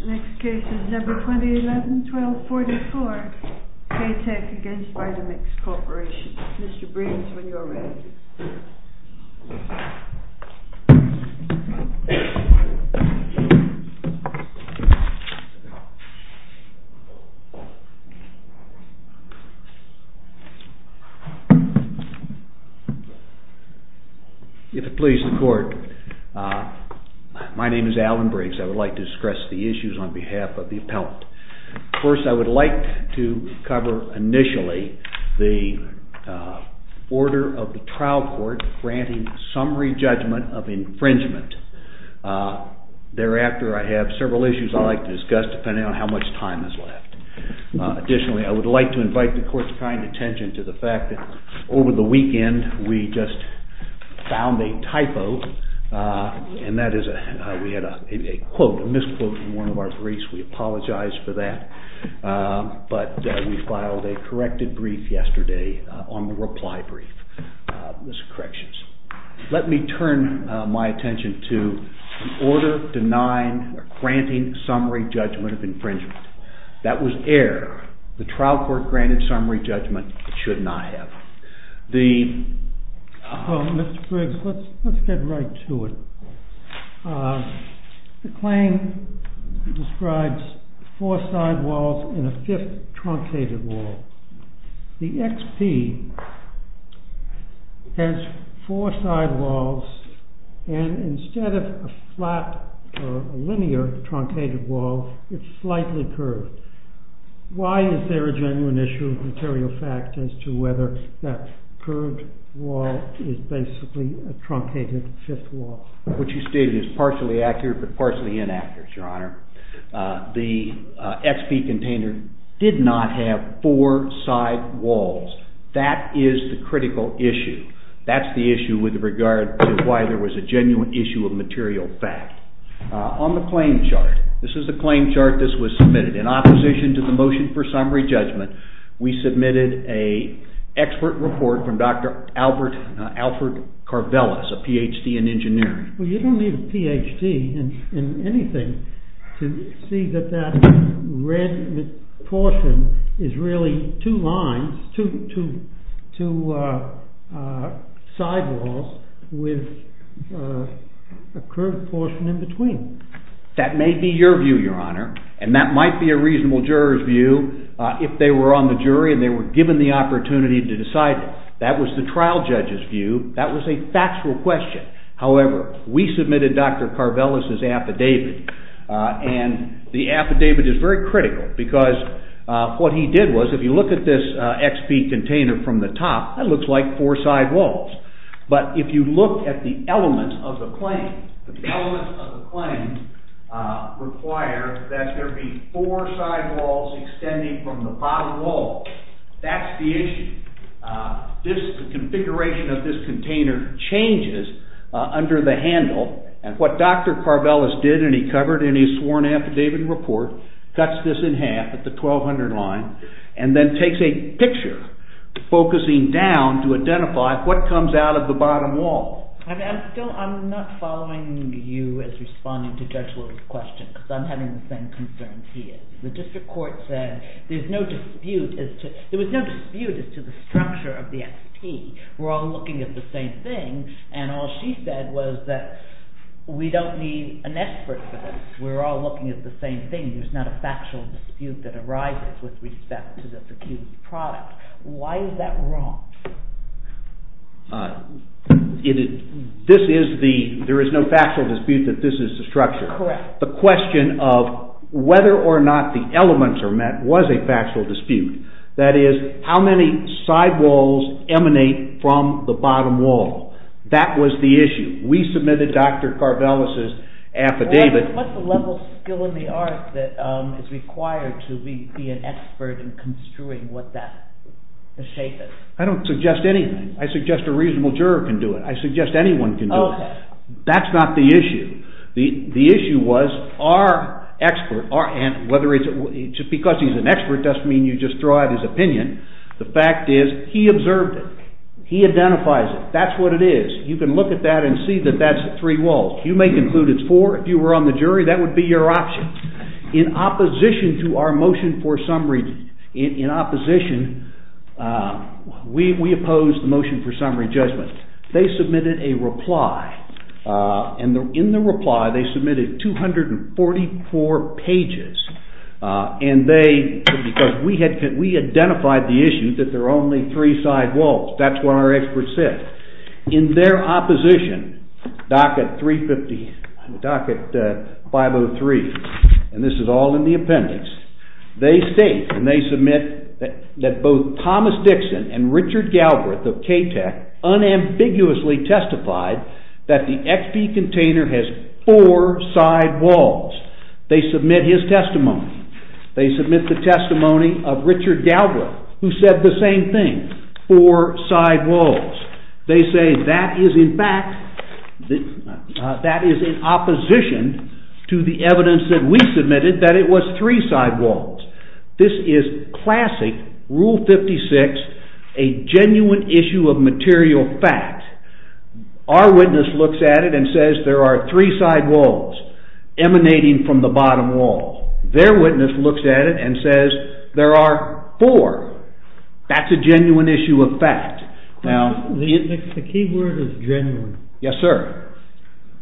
Mr. Breen is when you are ready If it please the court, my name is Alvin Briggs. I would like to discuss the issues on behalf of the appellant. First, I would like to cover initially the order of the trial court granting summary judgment of infringement. Thereafter, I have several issues I would like to discuss depending on how much time is left. Additionally, I would like to invite the court's kind attention to the fact that over the weekend we just found a typo. We had a misquote in one of our briefs. We apologize for that. We filed a corrected brief yesterday on the reply brief. Let me turn my attention to the order granting summary judgment of infringement. That was error. The trial court granted summary judgment it should not have. Mr. Briggs, let's get right to it. The claim describes four sidewalls and a fifth truncated wall. The XP has four sidewalls and instead of a flat or linear truncated wall, it's slightly curved. Why is there a genuine issue of material fact as to whether that curved wall is basically a truncated fifth wall? What you stated is partially accurate but partially inaccurate, Your Honor. The XP container did not have four sidewalls. That is the critical issue. That's the issue with regard to why there was a genuine issue of material fact. On the claim chart, this is the claim chart this was submitted. In opposition to the motion for summary judgment, we submitted an expert report from Dr. Alfred Carvelis, a Ph.D. in engineering. You don't need a Ph.D. in anything to see that that red portion is really two lines, two sidewalls with a curved portion in between. That may be your view, Your Honor, and that might be a reasonable juror's view if they were on the jury and they were given the opportunity to decide it. That was the trial judge's view. That was a factual question. However, we submitted Dr. Carvelis' affidavit and the affidavit is very critical because what he did was, if you look at this XP container from the require that there be four sidewalls extending from the bottom wall. That's the issue. The configuration of this container changes under the handle and what Dr. Carvelis did and he covered in his sworn affidavit report, cuts this in half at the 1200 line and then takes a picture focusing down to identify what comes out of the bottom wall. I'm not following you as responding to Judge Will's question because I'm having the same concerns he is. The district court said there was no dispute as to the structure of the XP. We're all looking at the same thing and all she said was that we don't need an expert for this. We're all looking at the same thing. There's not a factual dispute that arises with respect to this accused product. Why is that wrong? This is the, there is no factual dispute that this is the structure. Correct. The question of whether or not the elements are met was a factual dispute. That is, how many sidewalls emanate from the bottom wall. That was the issue. We submitted Dr. Carvelis' affidavit. What's the level of skill in the art that is required to be an expert in construing what that shape is? I don't suggest anything. I suggest a reasonable juror can do it. I suggest anyone can do it. Oh, that's not the issue. The issue was our expert, whether it's, just because he's an expert doesn't mean you just throw out his opinion. The fact is he observed it. He identifies it. That's what it is. You can look at that and see that that's three walls. You may conclude it's four. If you were on the jury, that would be your option. In opposition to our motion for summary, in opposition, we opposed the motion for summary judgment. They submitted a reply. In the reply, they submitted 244 pages. We identified the issue that there are only three sidewalls. That's what our expert said. In their opposition, docket 503, and this is all in the appendix, they state and they submit that both Thomas Dixon and Richard Galbraith of KTEC unambiguously testified that the XP container has four sidewalls. They submit his testimony. They submit the testimony of Richard Galbraith, who said the it was three sidewalls. This is classic Rule 56, a genuine issue of material fact. Our witness looks at it and says there are three sidewalls emanating from the bottom wall. Their witness looks at it and says there are four. That's a genuine issue of fact. The key word is genuine. Yes, sir.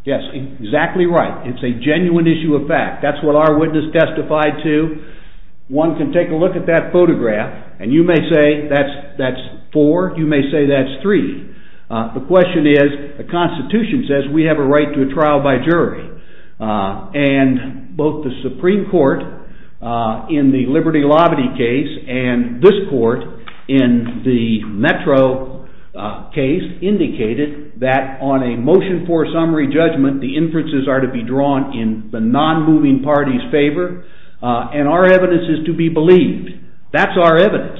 Yes, exactly right. It's a genuine issue of fact. That's what our witness testified to. One can take a look at that photograph, and you may say that's four. You may say that's three. The question is, the Constitution says we have a right to a trial by jury, and both the Supreme Court in the Liberty-Lobby case and this court in the Metro case indicated that on a motion for a summary judgment, the inferences are to be drawn in the non-moving party's favor, and our evidence is to be believed. That's our evidence.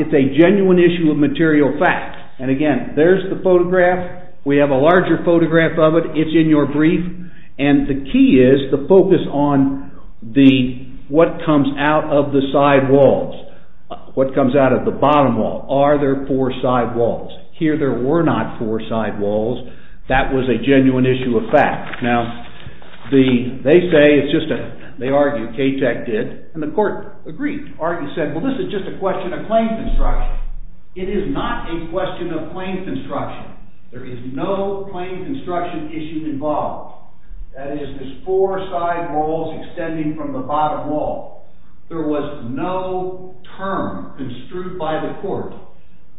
It's a genuine issue of material fact. And again, there's the photograph. We have a larger photograph of it. It's in your brief, and the key is the focus on what comes out of the sidewalls, what comes out of the bottom wall. Are there four sidewalls? Here there were not four sidewalls. That was a genuine issue of fact. Now, they say, they argue, KTEC did, and the court agreed, argued, said, well, this is just a question of claim construction. It is not a question of claim construction issue involved. That is, there's four sidewalls extending from the bottom wall. There was no term construed by the court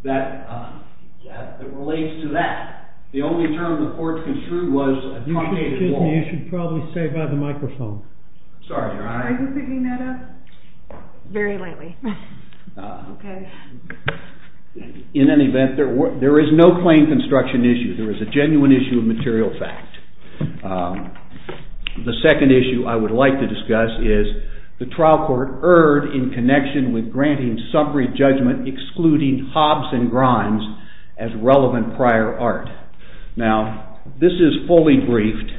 that relates to that. The only term the court construed was a truncated wall. You should probably stay by the microphone. Sorry, Your Honor. Are you picking that up? Very lightly. Okay. In any event, there is no claim construction issue. There is a genuine issue of material fact. The second issue I would like to discuss is the trial court erred in connection with granting summary judgment excluding hobs and grinds as relevant prior art. Now, this is fully briefed,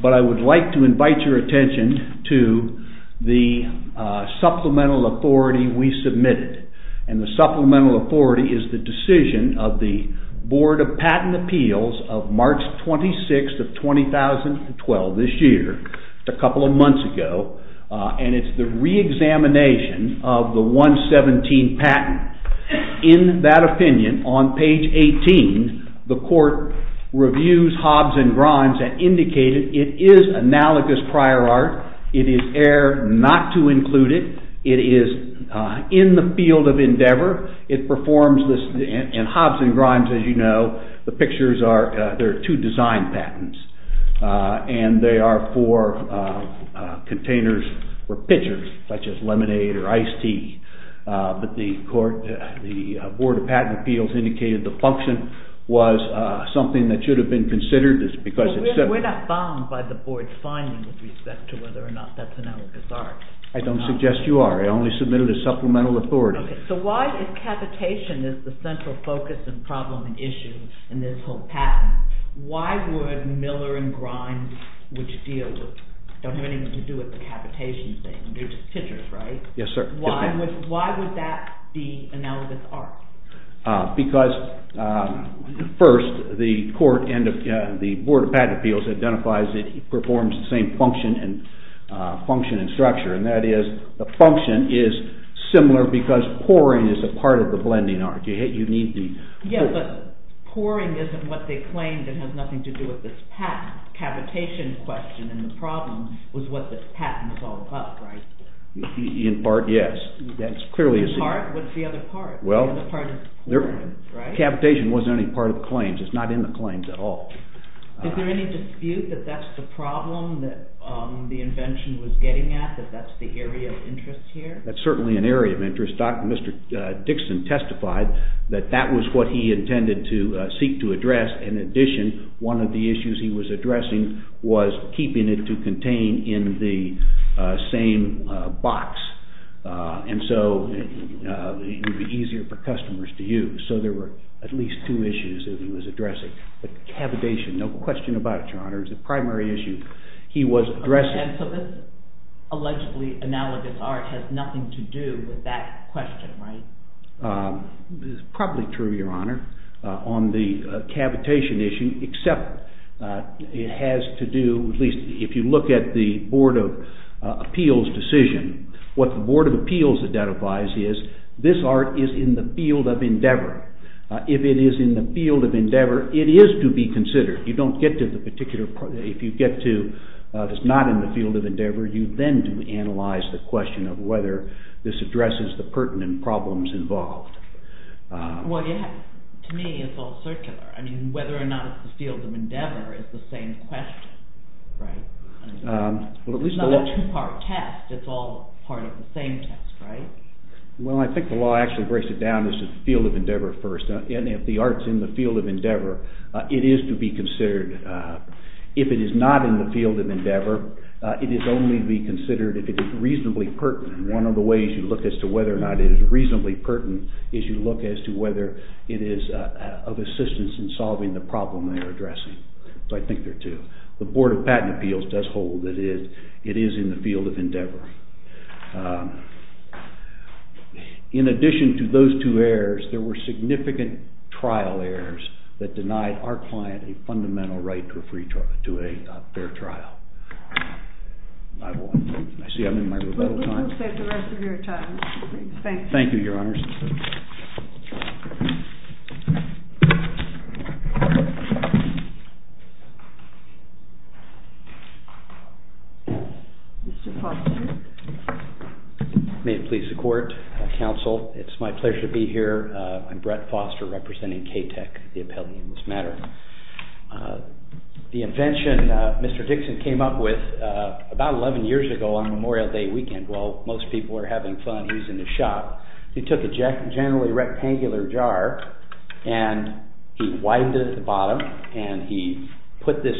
but I would like to invite your attention to the supplemental authority we submitted, and the supplemental authority is the decision of the Board of Patent Appeals of March 26th of 2012, this year, a couple of months ago, and it's the reexamination of the 117 patent. In that opinion, on page 18, the court reviews hobs and grinds and indicated it is analogous prior art. It is erred not to include it. It is in the field of endeavor. It performs this, and hobs and grinds, as you know, the pictures are, they're pictures, such as lemonade or iced tea, but the court, the Board of Patent Appeals indicated the function was something that should have been considered. We're not bound by the board's finding with respect to whether or not that's analogous art. I don't suggest you are. I only submitted a supplemental authority. So why, if cavitation is the central focus and problem and issue in this whole patent, why would Miller and Grinds, which deal with, don't have anything to do with the cavitation thing, they're just pictures, right? Yes, sir. Why would that be analogous art? Because, first, the court and the Board of Patent Appeals identifies it performs the same function and structure, and that is the function is similar because pouring is a part of the blending art. You need the... Yeah, but pouring isn't what they claimed and has nothing to do with this patent. Cavitation question and the problem was what this patent was all about, right? In part, yes. That's clearly... In part? What's the other part? Well, cavitation wasn't any part of the claims. It's not in the claims at all. Is there any dispute that that's the problem that the invention was getting at, that that's the area of interest here? That's certainly an area of interest. Mr. Dixon testified that that was what he intended to seek to address. In addition, one of the issues he was addressing was keeping it to contain in the same box, and so it would be easier for customers to use. So there were at least two issues that he was addressing. But cavitation, no question about it, Your Honor, is the primary issue. He was addressing... And so this allegedly analogous art has nothing to do with that question, right? It's probably true, Your Honor, on the cavitation issue, except it has to do, at least if you look at the Board of Appeals decision, what the Board of Appeals identifies is this art is in the field of endeavor. If it is in the field of endeavor, it is to be considered. You don't get to the particular... If you get to it's not in the field of endeavor, you then do analyze the question of whether this addresses the pertinent problems involved. Well, to me, it's all circular. I mean, whether or not it's the field of endeavor is the same question, right? It's not a two-part test. It's all part of the same test, right? Well, I think the law actually breaks it down as the field of endeavor first, and if the art is considered... If it is not in the field of endeavor, it is only to be considered if it is reasonably pertinent. One of the ways you look as to whether or not it is reasonably pertinent is you look as to whether it is of assistance in solving the problem they are addressing. So I think there are two. The Board of Patent Appeals does hold that it is in the field of endeavor. In addition to those two errors, there were significant trial errors that denied our client a fundamental right to a fair trial. I see I'm in my rebuttal time. We'll take the rest of your time. Thank you, Your Honors. Mr. Foster. May it please the Court, Counsel, it's my pleasure to be here. I'm Brett Foster, representing KTEC, the Appellee in this matter. The invention Mr. Dixon came up with about 11 years ago on Memorial Day weekend while most people were having fun, he was in the shop. He took a generally rectangular jar and he widened it at the bottom and he put this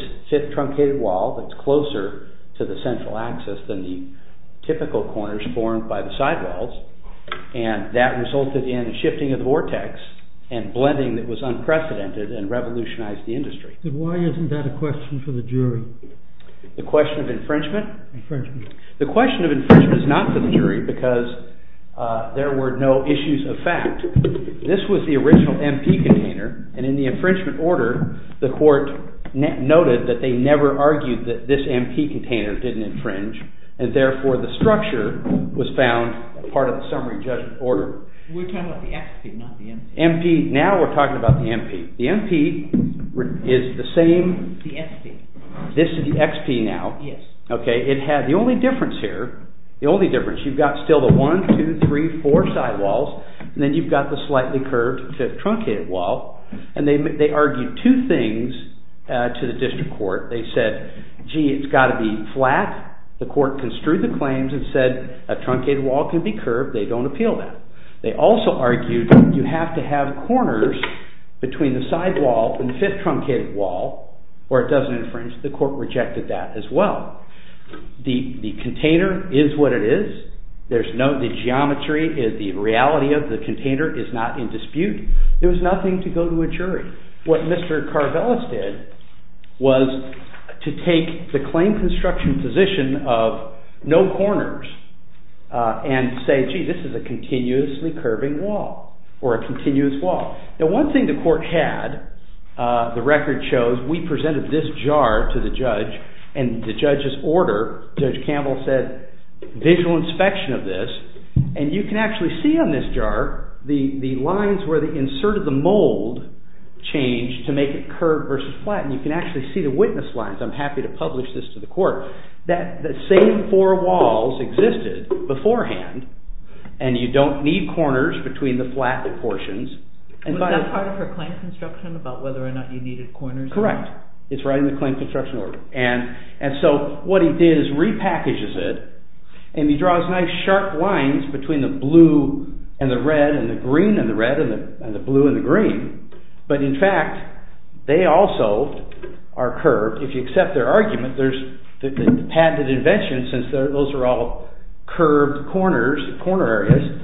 truncated wall that's closer to the central axis than the typical corners formed by the side walls, and that resulted in shifting of the vortex and blending that was unprecedented and revolutionized the industry. Why isn't that a question for the jury? The question of infringement? Infringement. The question of infringement is not for the jury because there were no issues of fact. This was the original MP container, and in the infringement order, the Court noted that they never argued that this MP container didn't infringe, and therefore the structure was found part of the summary judgment order. We're talking about the XP, not the MP. Now we're talking about the MP. The MP is the same. The XP. This is the XP now. Yes. The only difference here, the only difference, you've got still the one, two, three, four side walls, and then you've got the slightly curved fifth truncated wall, and they argued two things to the district court. They said, gee, it's got to be flat. The court construed the claims and said a truncated wall can be curved. They don't appeal that. They also argued you have to have corners between the side wall and the fifth truncated wall or it doesn't infringe. The court rejected that as well. The container is what it is. There's no geometry. The reality of the container is not in dispute. There was nothing to go to a jury. What Mr. Carvelis did was to take the claim construction position of no corners and say, gee, this is a continuously curving wall or a continuous wall. Now one thing the court had, the record shows we presented this jar to the judge, and the you can actually see on this jar the lines where they inserted the mold changed to make it curved versus flat, and you can actually see the witness lines. I'm happy to publish this to the court. The same four walls existed beforehand, and you don't need corners between the flat portions. Was that part of her claim construction about whether or not you needed corners? Correct. It's right in the claim construction order. What he did is repackages it, and he draws nice sharp lines between the blue and the red and the green and the red and the blue and the green, but in fact they also are curved. If you accept their argument, the patented invention, since those are all curved corners, corner areas,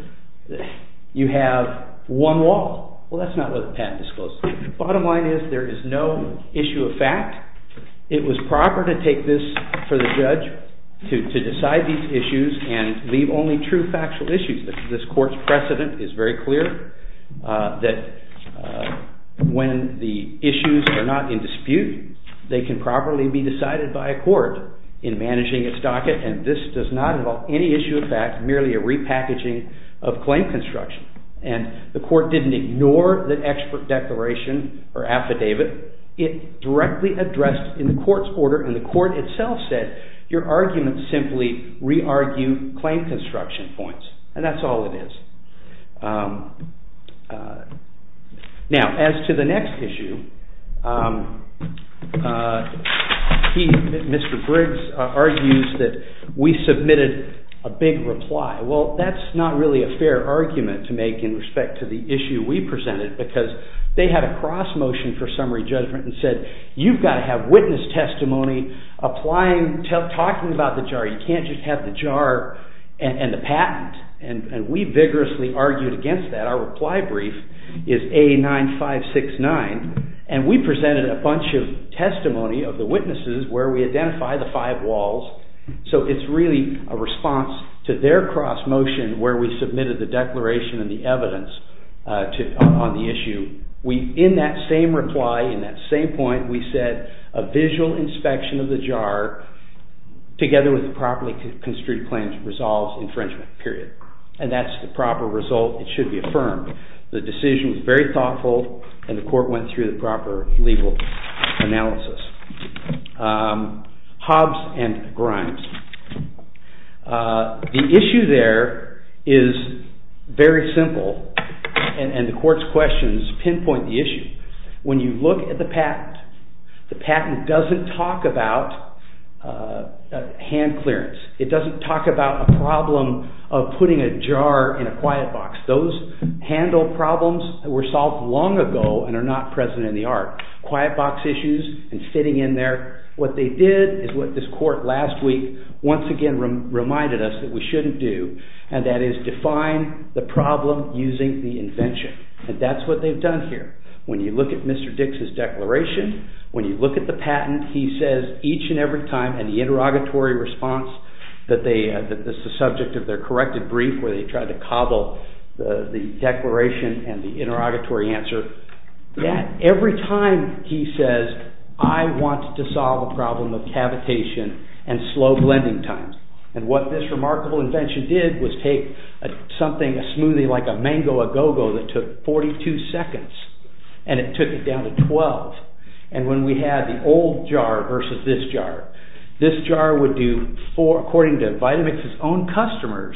you have one wall. Well, that's not what the patent disclosed. Bottom line is there is no issue of fact. It was proper to take this for the judge to decide these issues and leave only true factual issues. This court's precedent is very clear that when the issues are not in dispute, they can properly be decided by a court in managing its docket, and this does not involve any issue of fact, merely a repackaging of claim construction, and the court didn't ignore the expert declaration or affidavit. It directly addressed in the court's order, and the court itself said your argument simply re-argue claim construction points, and that's all it is. Now, as to the next issue, Mr. Briggs argues that we submitted a big reply. Well, that's not really a fair argument to make in respect to the issue we presented, because they had a cross motion for summary judgment and said you've got to have witness testimony talking about the jar. You can't just have the jar and the patent, and we vigorously argued against that. Our reply brief is A9569, and we presented a bunch of testimony of the witnesses where we identified the five walls, so it's really a response to their cross motion where we submitted the declaration and the evidence on the issue. In that same reply, in that same point, we said a visual inspection of the jar together with properly construed claims resolves infringement period, and that's the proper result. It should be affirmed. The decision was very thoughtful, and the court went through the proper legal analysis. Hobbs and Grimes. The issue there is very simple, and the court's questions pinpoint the issue. When you look at the patent, the patent doesn't talk about hand clearance. It doesn't talk about a problem of putting a jar in a quiet box. Those handle problems that were solved long ago and are not present in the art. Quiet box issues and fitting in there. What they did is what this court last week once again reminded us that we shouldn't do, and that is define the problem using the invention, and that's what they've done here. When you look at Mr. Dix's declaration, when you look at the patent, he says each and every time in the interrogatory response that this is the subject of their corrected brief where they tried to cobble the declaration and the interrogatory answer, that every time he says, I want to solve a problem of cavitation and slow blending time, and what this remarkable invention did was take something, a smoothie like a mango agogo that took 42 seconds, and it took it down to 12, and when we had the old jar versus this jar, this jar would do, according to Vitamix's own customers,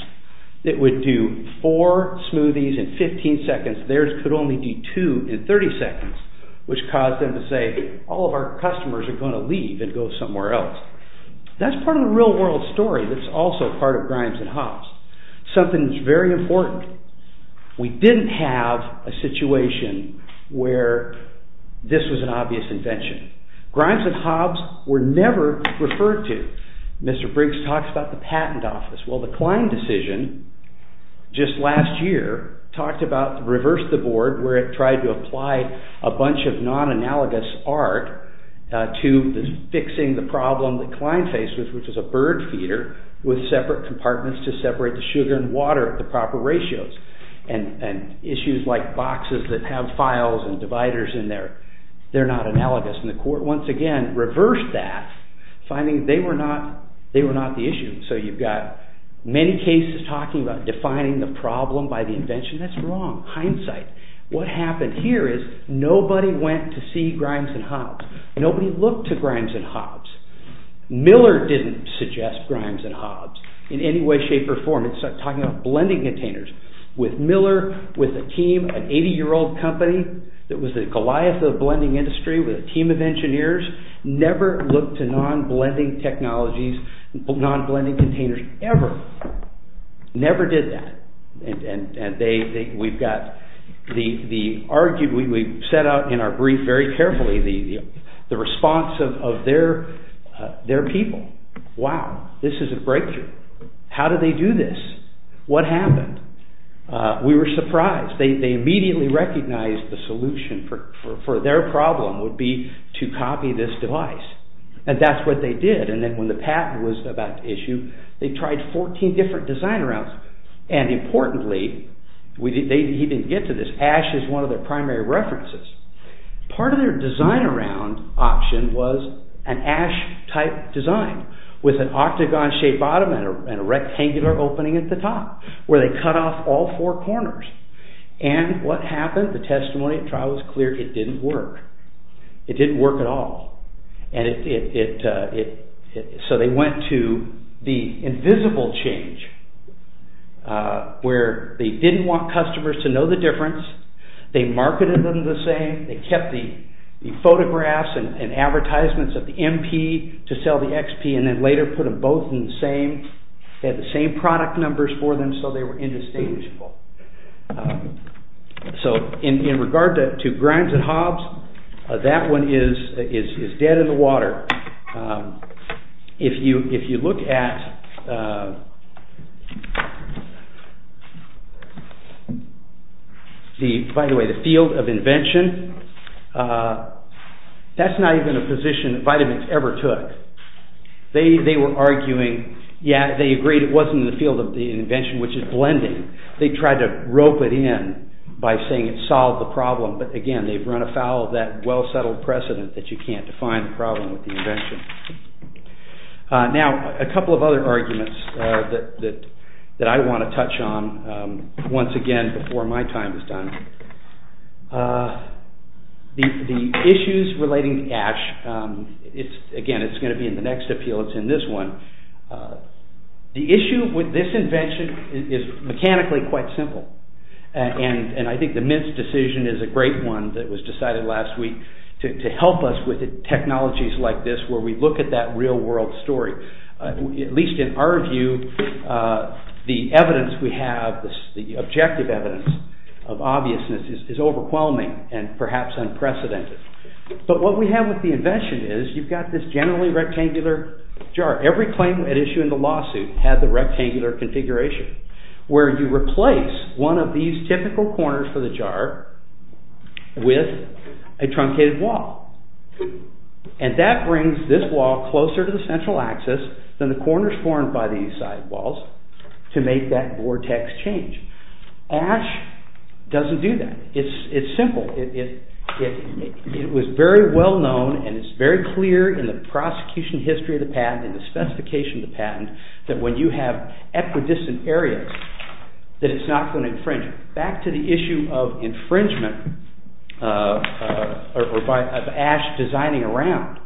it would do four smoothies in 15 seconds, theirs could only do two in 30 seconds, which caused them to say all of our customers are going to leave and go somewhere else. That's part of the real world story that's also part of Grimes and Hobbs. Something that's very important. We didn't have a situation where this was an obvious invention. Grimes and Hobbs were never referred to. Mr. Briggs talks about the patent office. Well, the Klein decision just last year talked about reverse the board where it tried to apply a bunch of non-analogous art to fixing the problem that Klein faced, which was a bird feeder with separate compartments to separate the sugar and water at the proper ratios, and issues like boxes that have files and dividers in there, they're not analogous, and the court, once again, reversed that, finding they were not the issue. So you've got many cases talking about defining the problem by the invention. That's wrong. Hindsight. What happened here is nobody went to see Grimes and Hobbs. Nobody looked to Grimes and Hobbs. Miller didn't suggest Grimes and Hobbs in any way, shape, or form. It's talking about blending containers with Miller, with a team, an 80-year-old company that was the Goliath of the blending industry, with a team of engineers, never looked to non-blending technologies, non-blending containers, ever. Never did that. And we've set out in our brief very carefully the response of their people. Wow, this is a breakthrough. How did they do this? What happened? We were surprised. They immediately recognized the solution for their problem would be to copy this device, and that's what they did. And then when the patent was about to issue, they tried 14 different design rounds, and importantly, they didn't get to this, ash is one of their primary references. Part of their design round option was an ash-type design, with an octagon-shaped bottom and a rectangular opening at the top, where they cut off all four corners. And what happened? The testimony at trial was clear, it didn't work. It didn't work at all. So they went to the invisible change, where they didn't want customers to know the difference, they marketed them the same, they kept the photographs and advertisements of the MP to sell the XP, and then later put them both in the same, they had the same product numbers for them, so they were indistinguishable. So in regard to Grimes and Hobbes, that one is dead in the water. If you look at, by the way, the field of invention, that's not even a position Vitamix ever took. They were arguing, yeah, they agreed it wasn't in the field of the invention, which is blending, they tried to rope it in by saying it solved the problem, but again, they've run afoul of that well-settled precedent that you can't define the problem with the invention. Now, a couple of other arguments that I want to touch on, once again, before my time is done. The issues relating to Ash, again, it's going to be in the next appeal, it's in this one. The issue with this invention is mechanically quite simple, and I think the Mint's decision is a great one that was decided last week to help us with technologies like this where we look at that real-world story. At least in our view, the evidence we have, the objective evidence of obviousness is overwhelming and perhaps unprecedented. But what we have with the invention is you've got this generally rectangular jar. Every claim at issue in the lawsuit had the rectangular configuration where you replace one of these typical corners for the jar with a truncated wall, and that brings this wall closer to the central axis than the corners formed by these side walls to make that vortex change. Ash doesn't do that. It's simple. It was very well-known and it's very clear in the prosecution history of the patent and the specification of the patent that when you have equidistant areas that it's not going to infringe. Back to the issue of infringement of Ash designing around.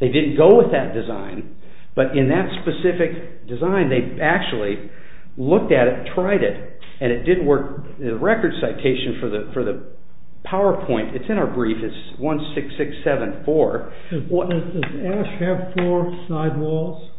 They didn't go with that design, but in that specific design, they actually looked at it, tried it, and it didn't work. The record citation for the PowerPoint, it's in our brief, it's 16674. Does Ash have four side walls?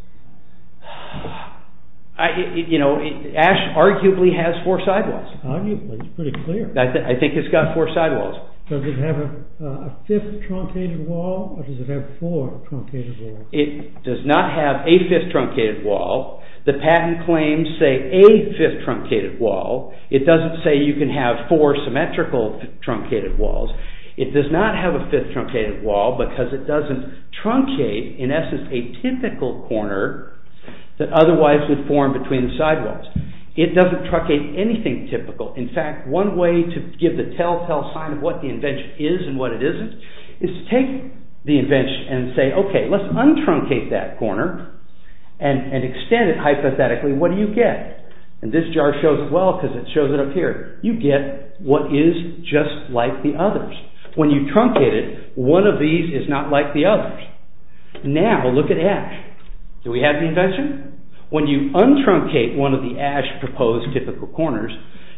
Ash arguably has four side walls. Arguably? It's pretty clear. I think it's got four side walls. Does it have a fifth truncated wall or does it have four truncated walls? It does not have a fifth truncated wall. The patent claims, say, a fifth truncated wall. It doesn't say you can have four symmetrical truncated walls. It does not have a fifth truncated wall because it doesn't truncate, in essence, a typical corner that otherwise would form between the side walls. It doesn't truncate anything typical. In fact, one way to give the telltale sign of what the invention is and what it isn't is to take the invention and say, okay, let's untruncate that corner and extend it hypothetically. What do you get? This jar shows it well because it shows it up here. You get what is just like the others. When you truncate it, one of these is not like the others. Now, look at Ash. Do we have the invention? When you untruncate one of the Ash proposed typical corners,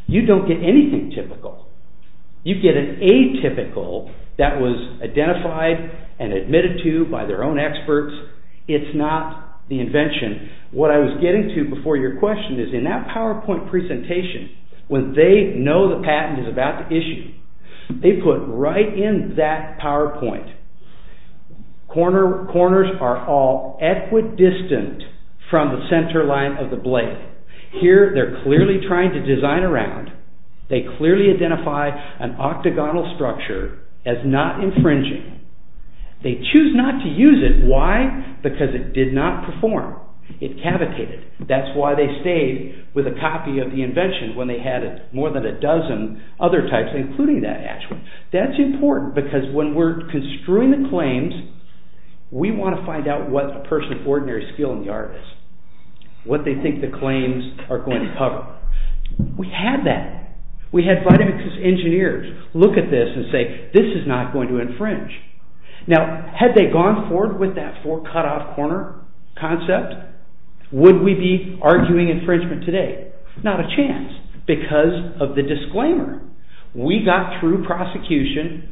you don't get anything typical. You get an atypical that was identified and admitted to by their own experts. It's not the invention. What I was getting to before your question is in that PowerPoint presentation, when they know the patent is about to issue, they put right in that PowerPoint, corners are all equidistant from the center line of the blade. Here, they're clearly trying to design around. They clearly identify an octagonal structure as not infringing. They choose not to use it. Why? Because it did not perform. It cavitated. That's why they stayed with a copy of the invention when they had more than a dozen other types including that Ash one. That's important because when we're construing the claims, we want to find out what a person's ordinary skill in the art is, what they think the claims are going to cover. We had that. We had Vitamix's engineers look at this and say, this is not going to infringe. Had they gone forward with that four cut-off corner concept, would we be arguing infringement today? Not a chance because of the disclaimer. We got through prosecution.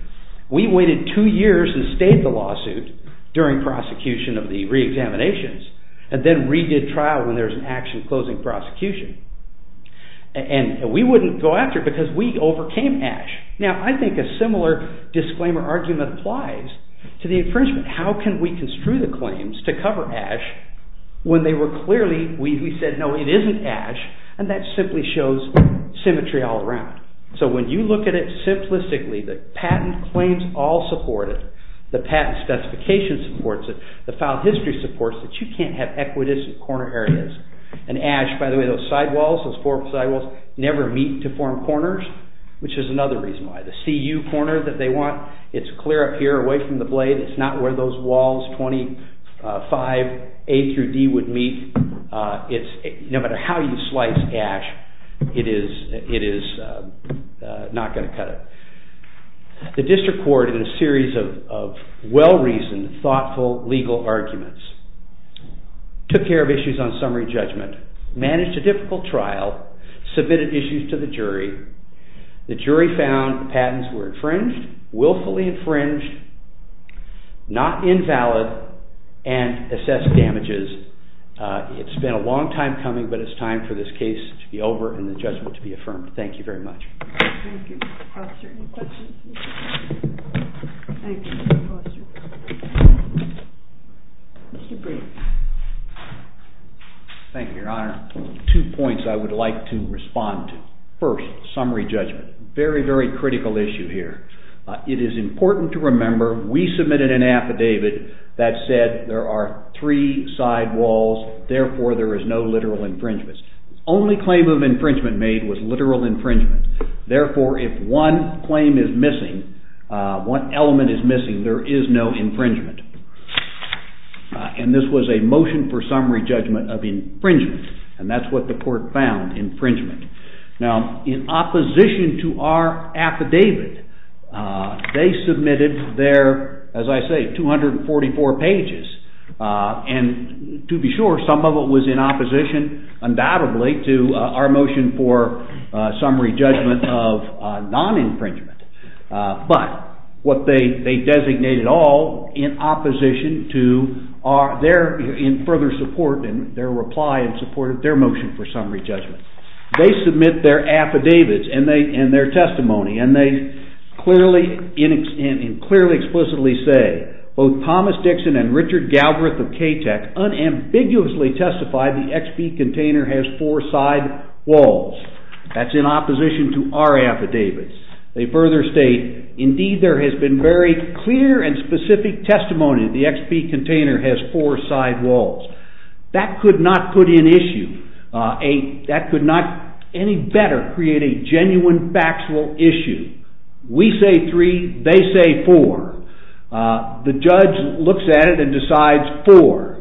We waited two years and stayed the lawsuit during prosecution of the reexaminations and then redid trial when there was an action closing prosecution. We wouldn't go after it because we overcame Ash. I think a similar disclaimer argument applies to the infringement. How can we construe the claims to cover Ash when they were clearly, we said, no, it isn't Ash, and that simply shows symmetry all around. So when you look at it simplistically, the patent claims all support it. The patent specification supports it. The file history supports it. You can't have equidistant corner areas. And Ash, by the way, those sidewalls, those four sidewalls, never meet to form corners, which is another reason why. The CU corner that they want, it's clear up here away from the blade. It's not where those walls 25A through D would meet. No matter how you slice Ash, it is not going to cut it. The district court, in a series of well-reasoned, thoughtful legal arguments, took care of issues on summary judgment, managed a difficult trial, submitted issues to the jury. The jury found patents were infringed, willfully infringed, not invalid, and assessed damages. It's been a long time coming, but it's time for this case to be over and the judgment to be affirmed. Thank you very much. Thank you, Mr. Foster. Any questions? Thank you, Mr. Foster. Mr. Breed. Thank you, Your Honor. Two points I would like to respond to. First, summary judgment, very, very critical issue here. It is important to remember we submitted an affidavit that said there are three side walls, therefore there is no literal infringement. The only claim of infringement made was literal infringement. Therefore, if one claim is missing, one element is missing, there is no infringement. And this was a motion for summary judgment of infringement, and that's what the court found infringement. Now, in opposition to our affidavit, they submitted their, as I say, 244 pages, and to be sure, some of it was in opposition, undoubtedly, to our motion for summary judgment of non-infringement. But what they designated all in opposition to their further support and their reply in support of their motion for summary judgment. They submit their affidavits and their testimony, and they clearly and explicitly say, both Thomas Dixon and Richard Galbraith of KTEC unambiguously testify the XP container has four side walls. That's in opposition to our affidavits. They further state, indeed, there has been very clear and specific testimony that the XP container has four side walls. That could not put in issue, that could not any better create a genuine factual issue. We say three, they say four. The judge looks at it and decides four.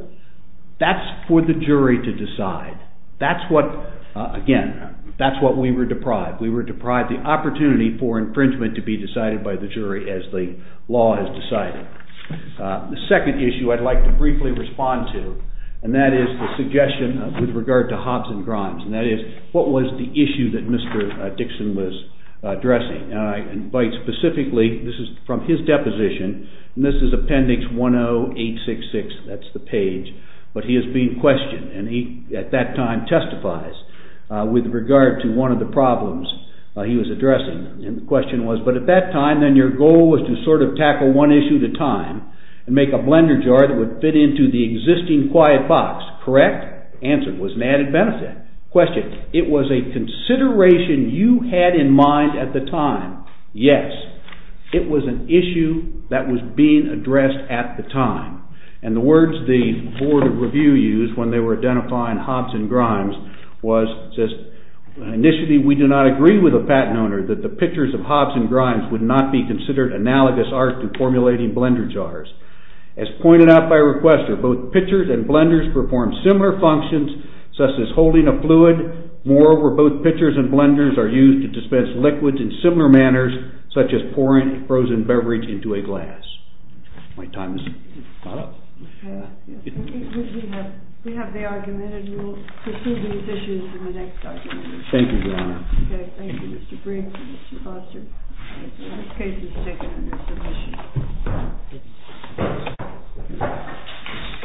That's for the jury to decide. That's what, again, that's what we were deprived. We were deprived the opportunity for infringement to be decided by the jury as the law has decided. The second issue I'd like to briefly respond to, and that is the suggestion with regard to Hobbs and Grimes, and that is what was the issue that Mr. Dixon was addressing. I invite specifically, this is from his deposition, and this is appendix 10866, that's the page, but he has been questioned, and he at that time testifies with regard to one of the problems he was addressing. The question was, but at that time, then your goal was to sort of tackle one issue at a time and make a blender jar that would fit into the existing quiet box, correct? Answer, it was an added benefit. Question, it was a consideration you had in mind at the time. Yes, it was an issue that was being addressed at the time, and the words the Board of Review used when they were identifying Hobbs and Grimes was just, initially, we do not agree with the patent owner that the pictures of Hobbs and Grimes would not be considered analogous art in formulating blender jars. As pointed out by requester, both pitchers and blenders perform similar functions, such as holding a fluid. Moreover, both pitchers and blenders are used to dispense liquids in similar manners, such as pouring a frozen beverage into a glass. My time is not up. We have the argument, and we will pursue these issues in the next argument. Thank you, Your Honor. Thank you, Mr. Brink. Thank you, Mr. Foster. The case is taken under submission.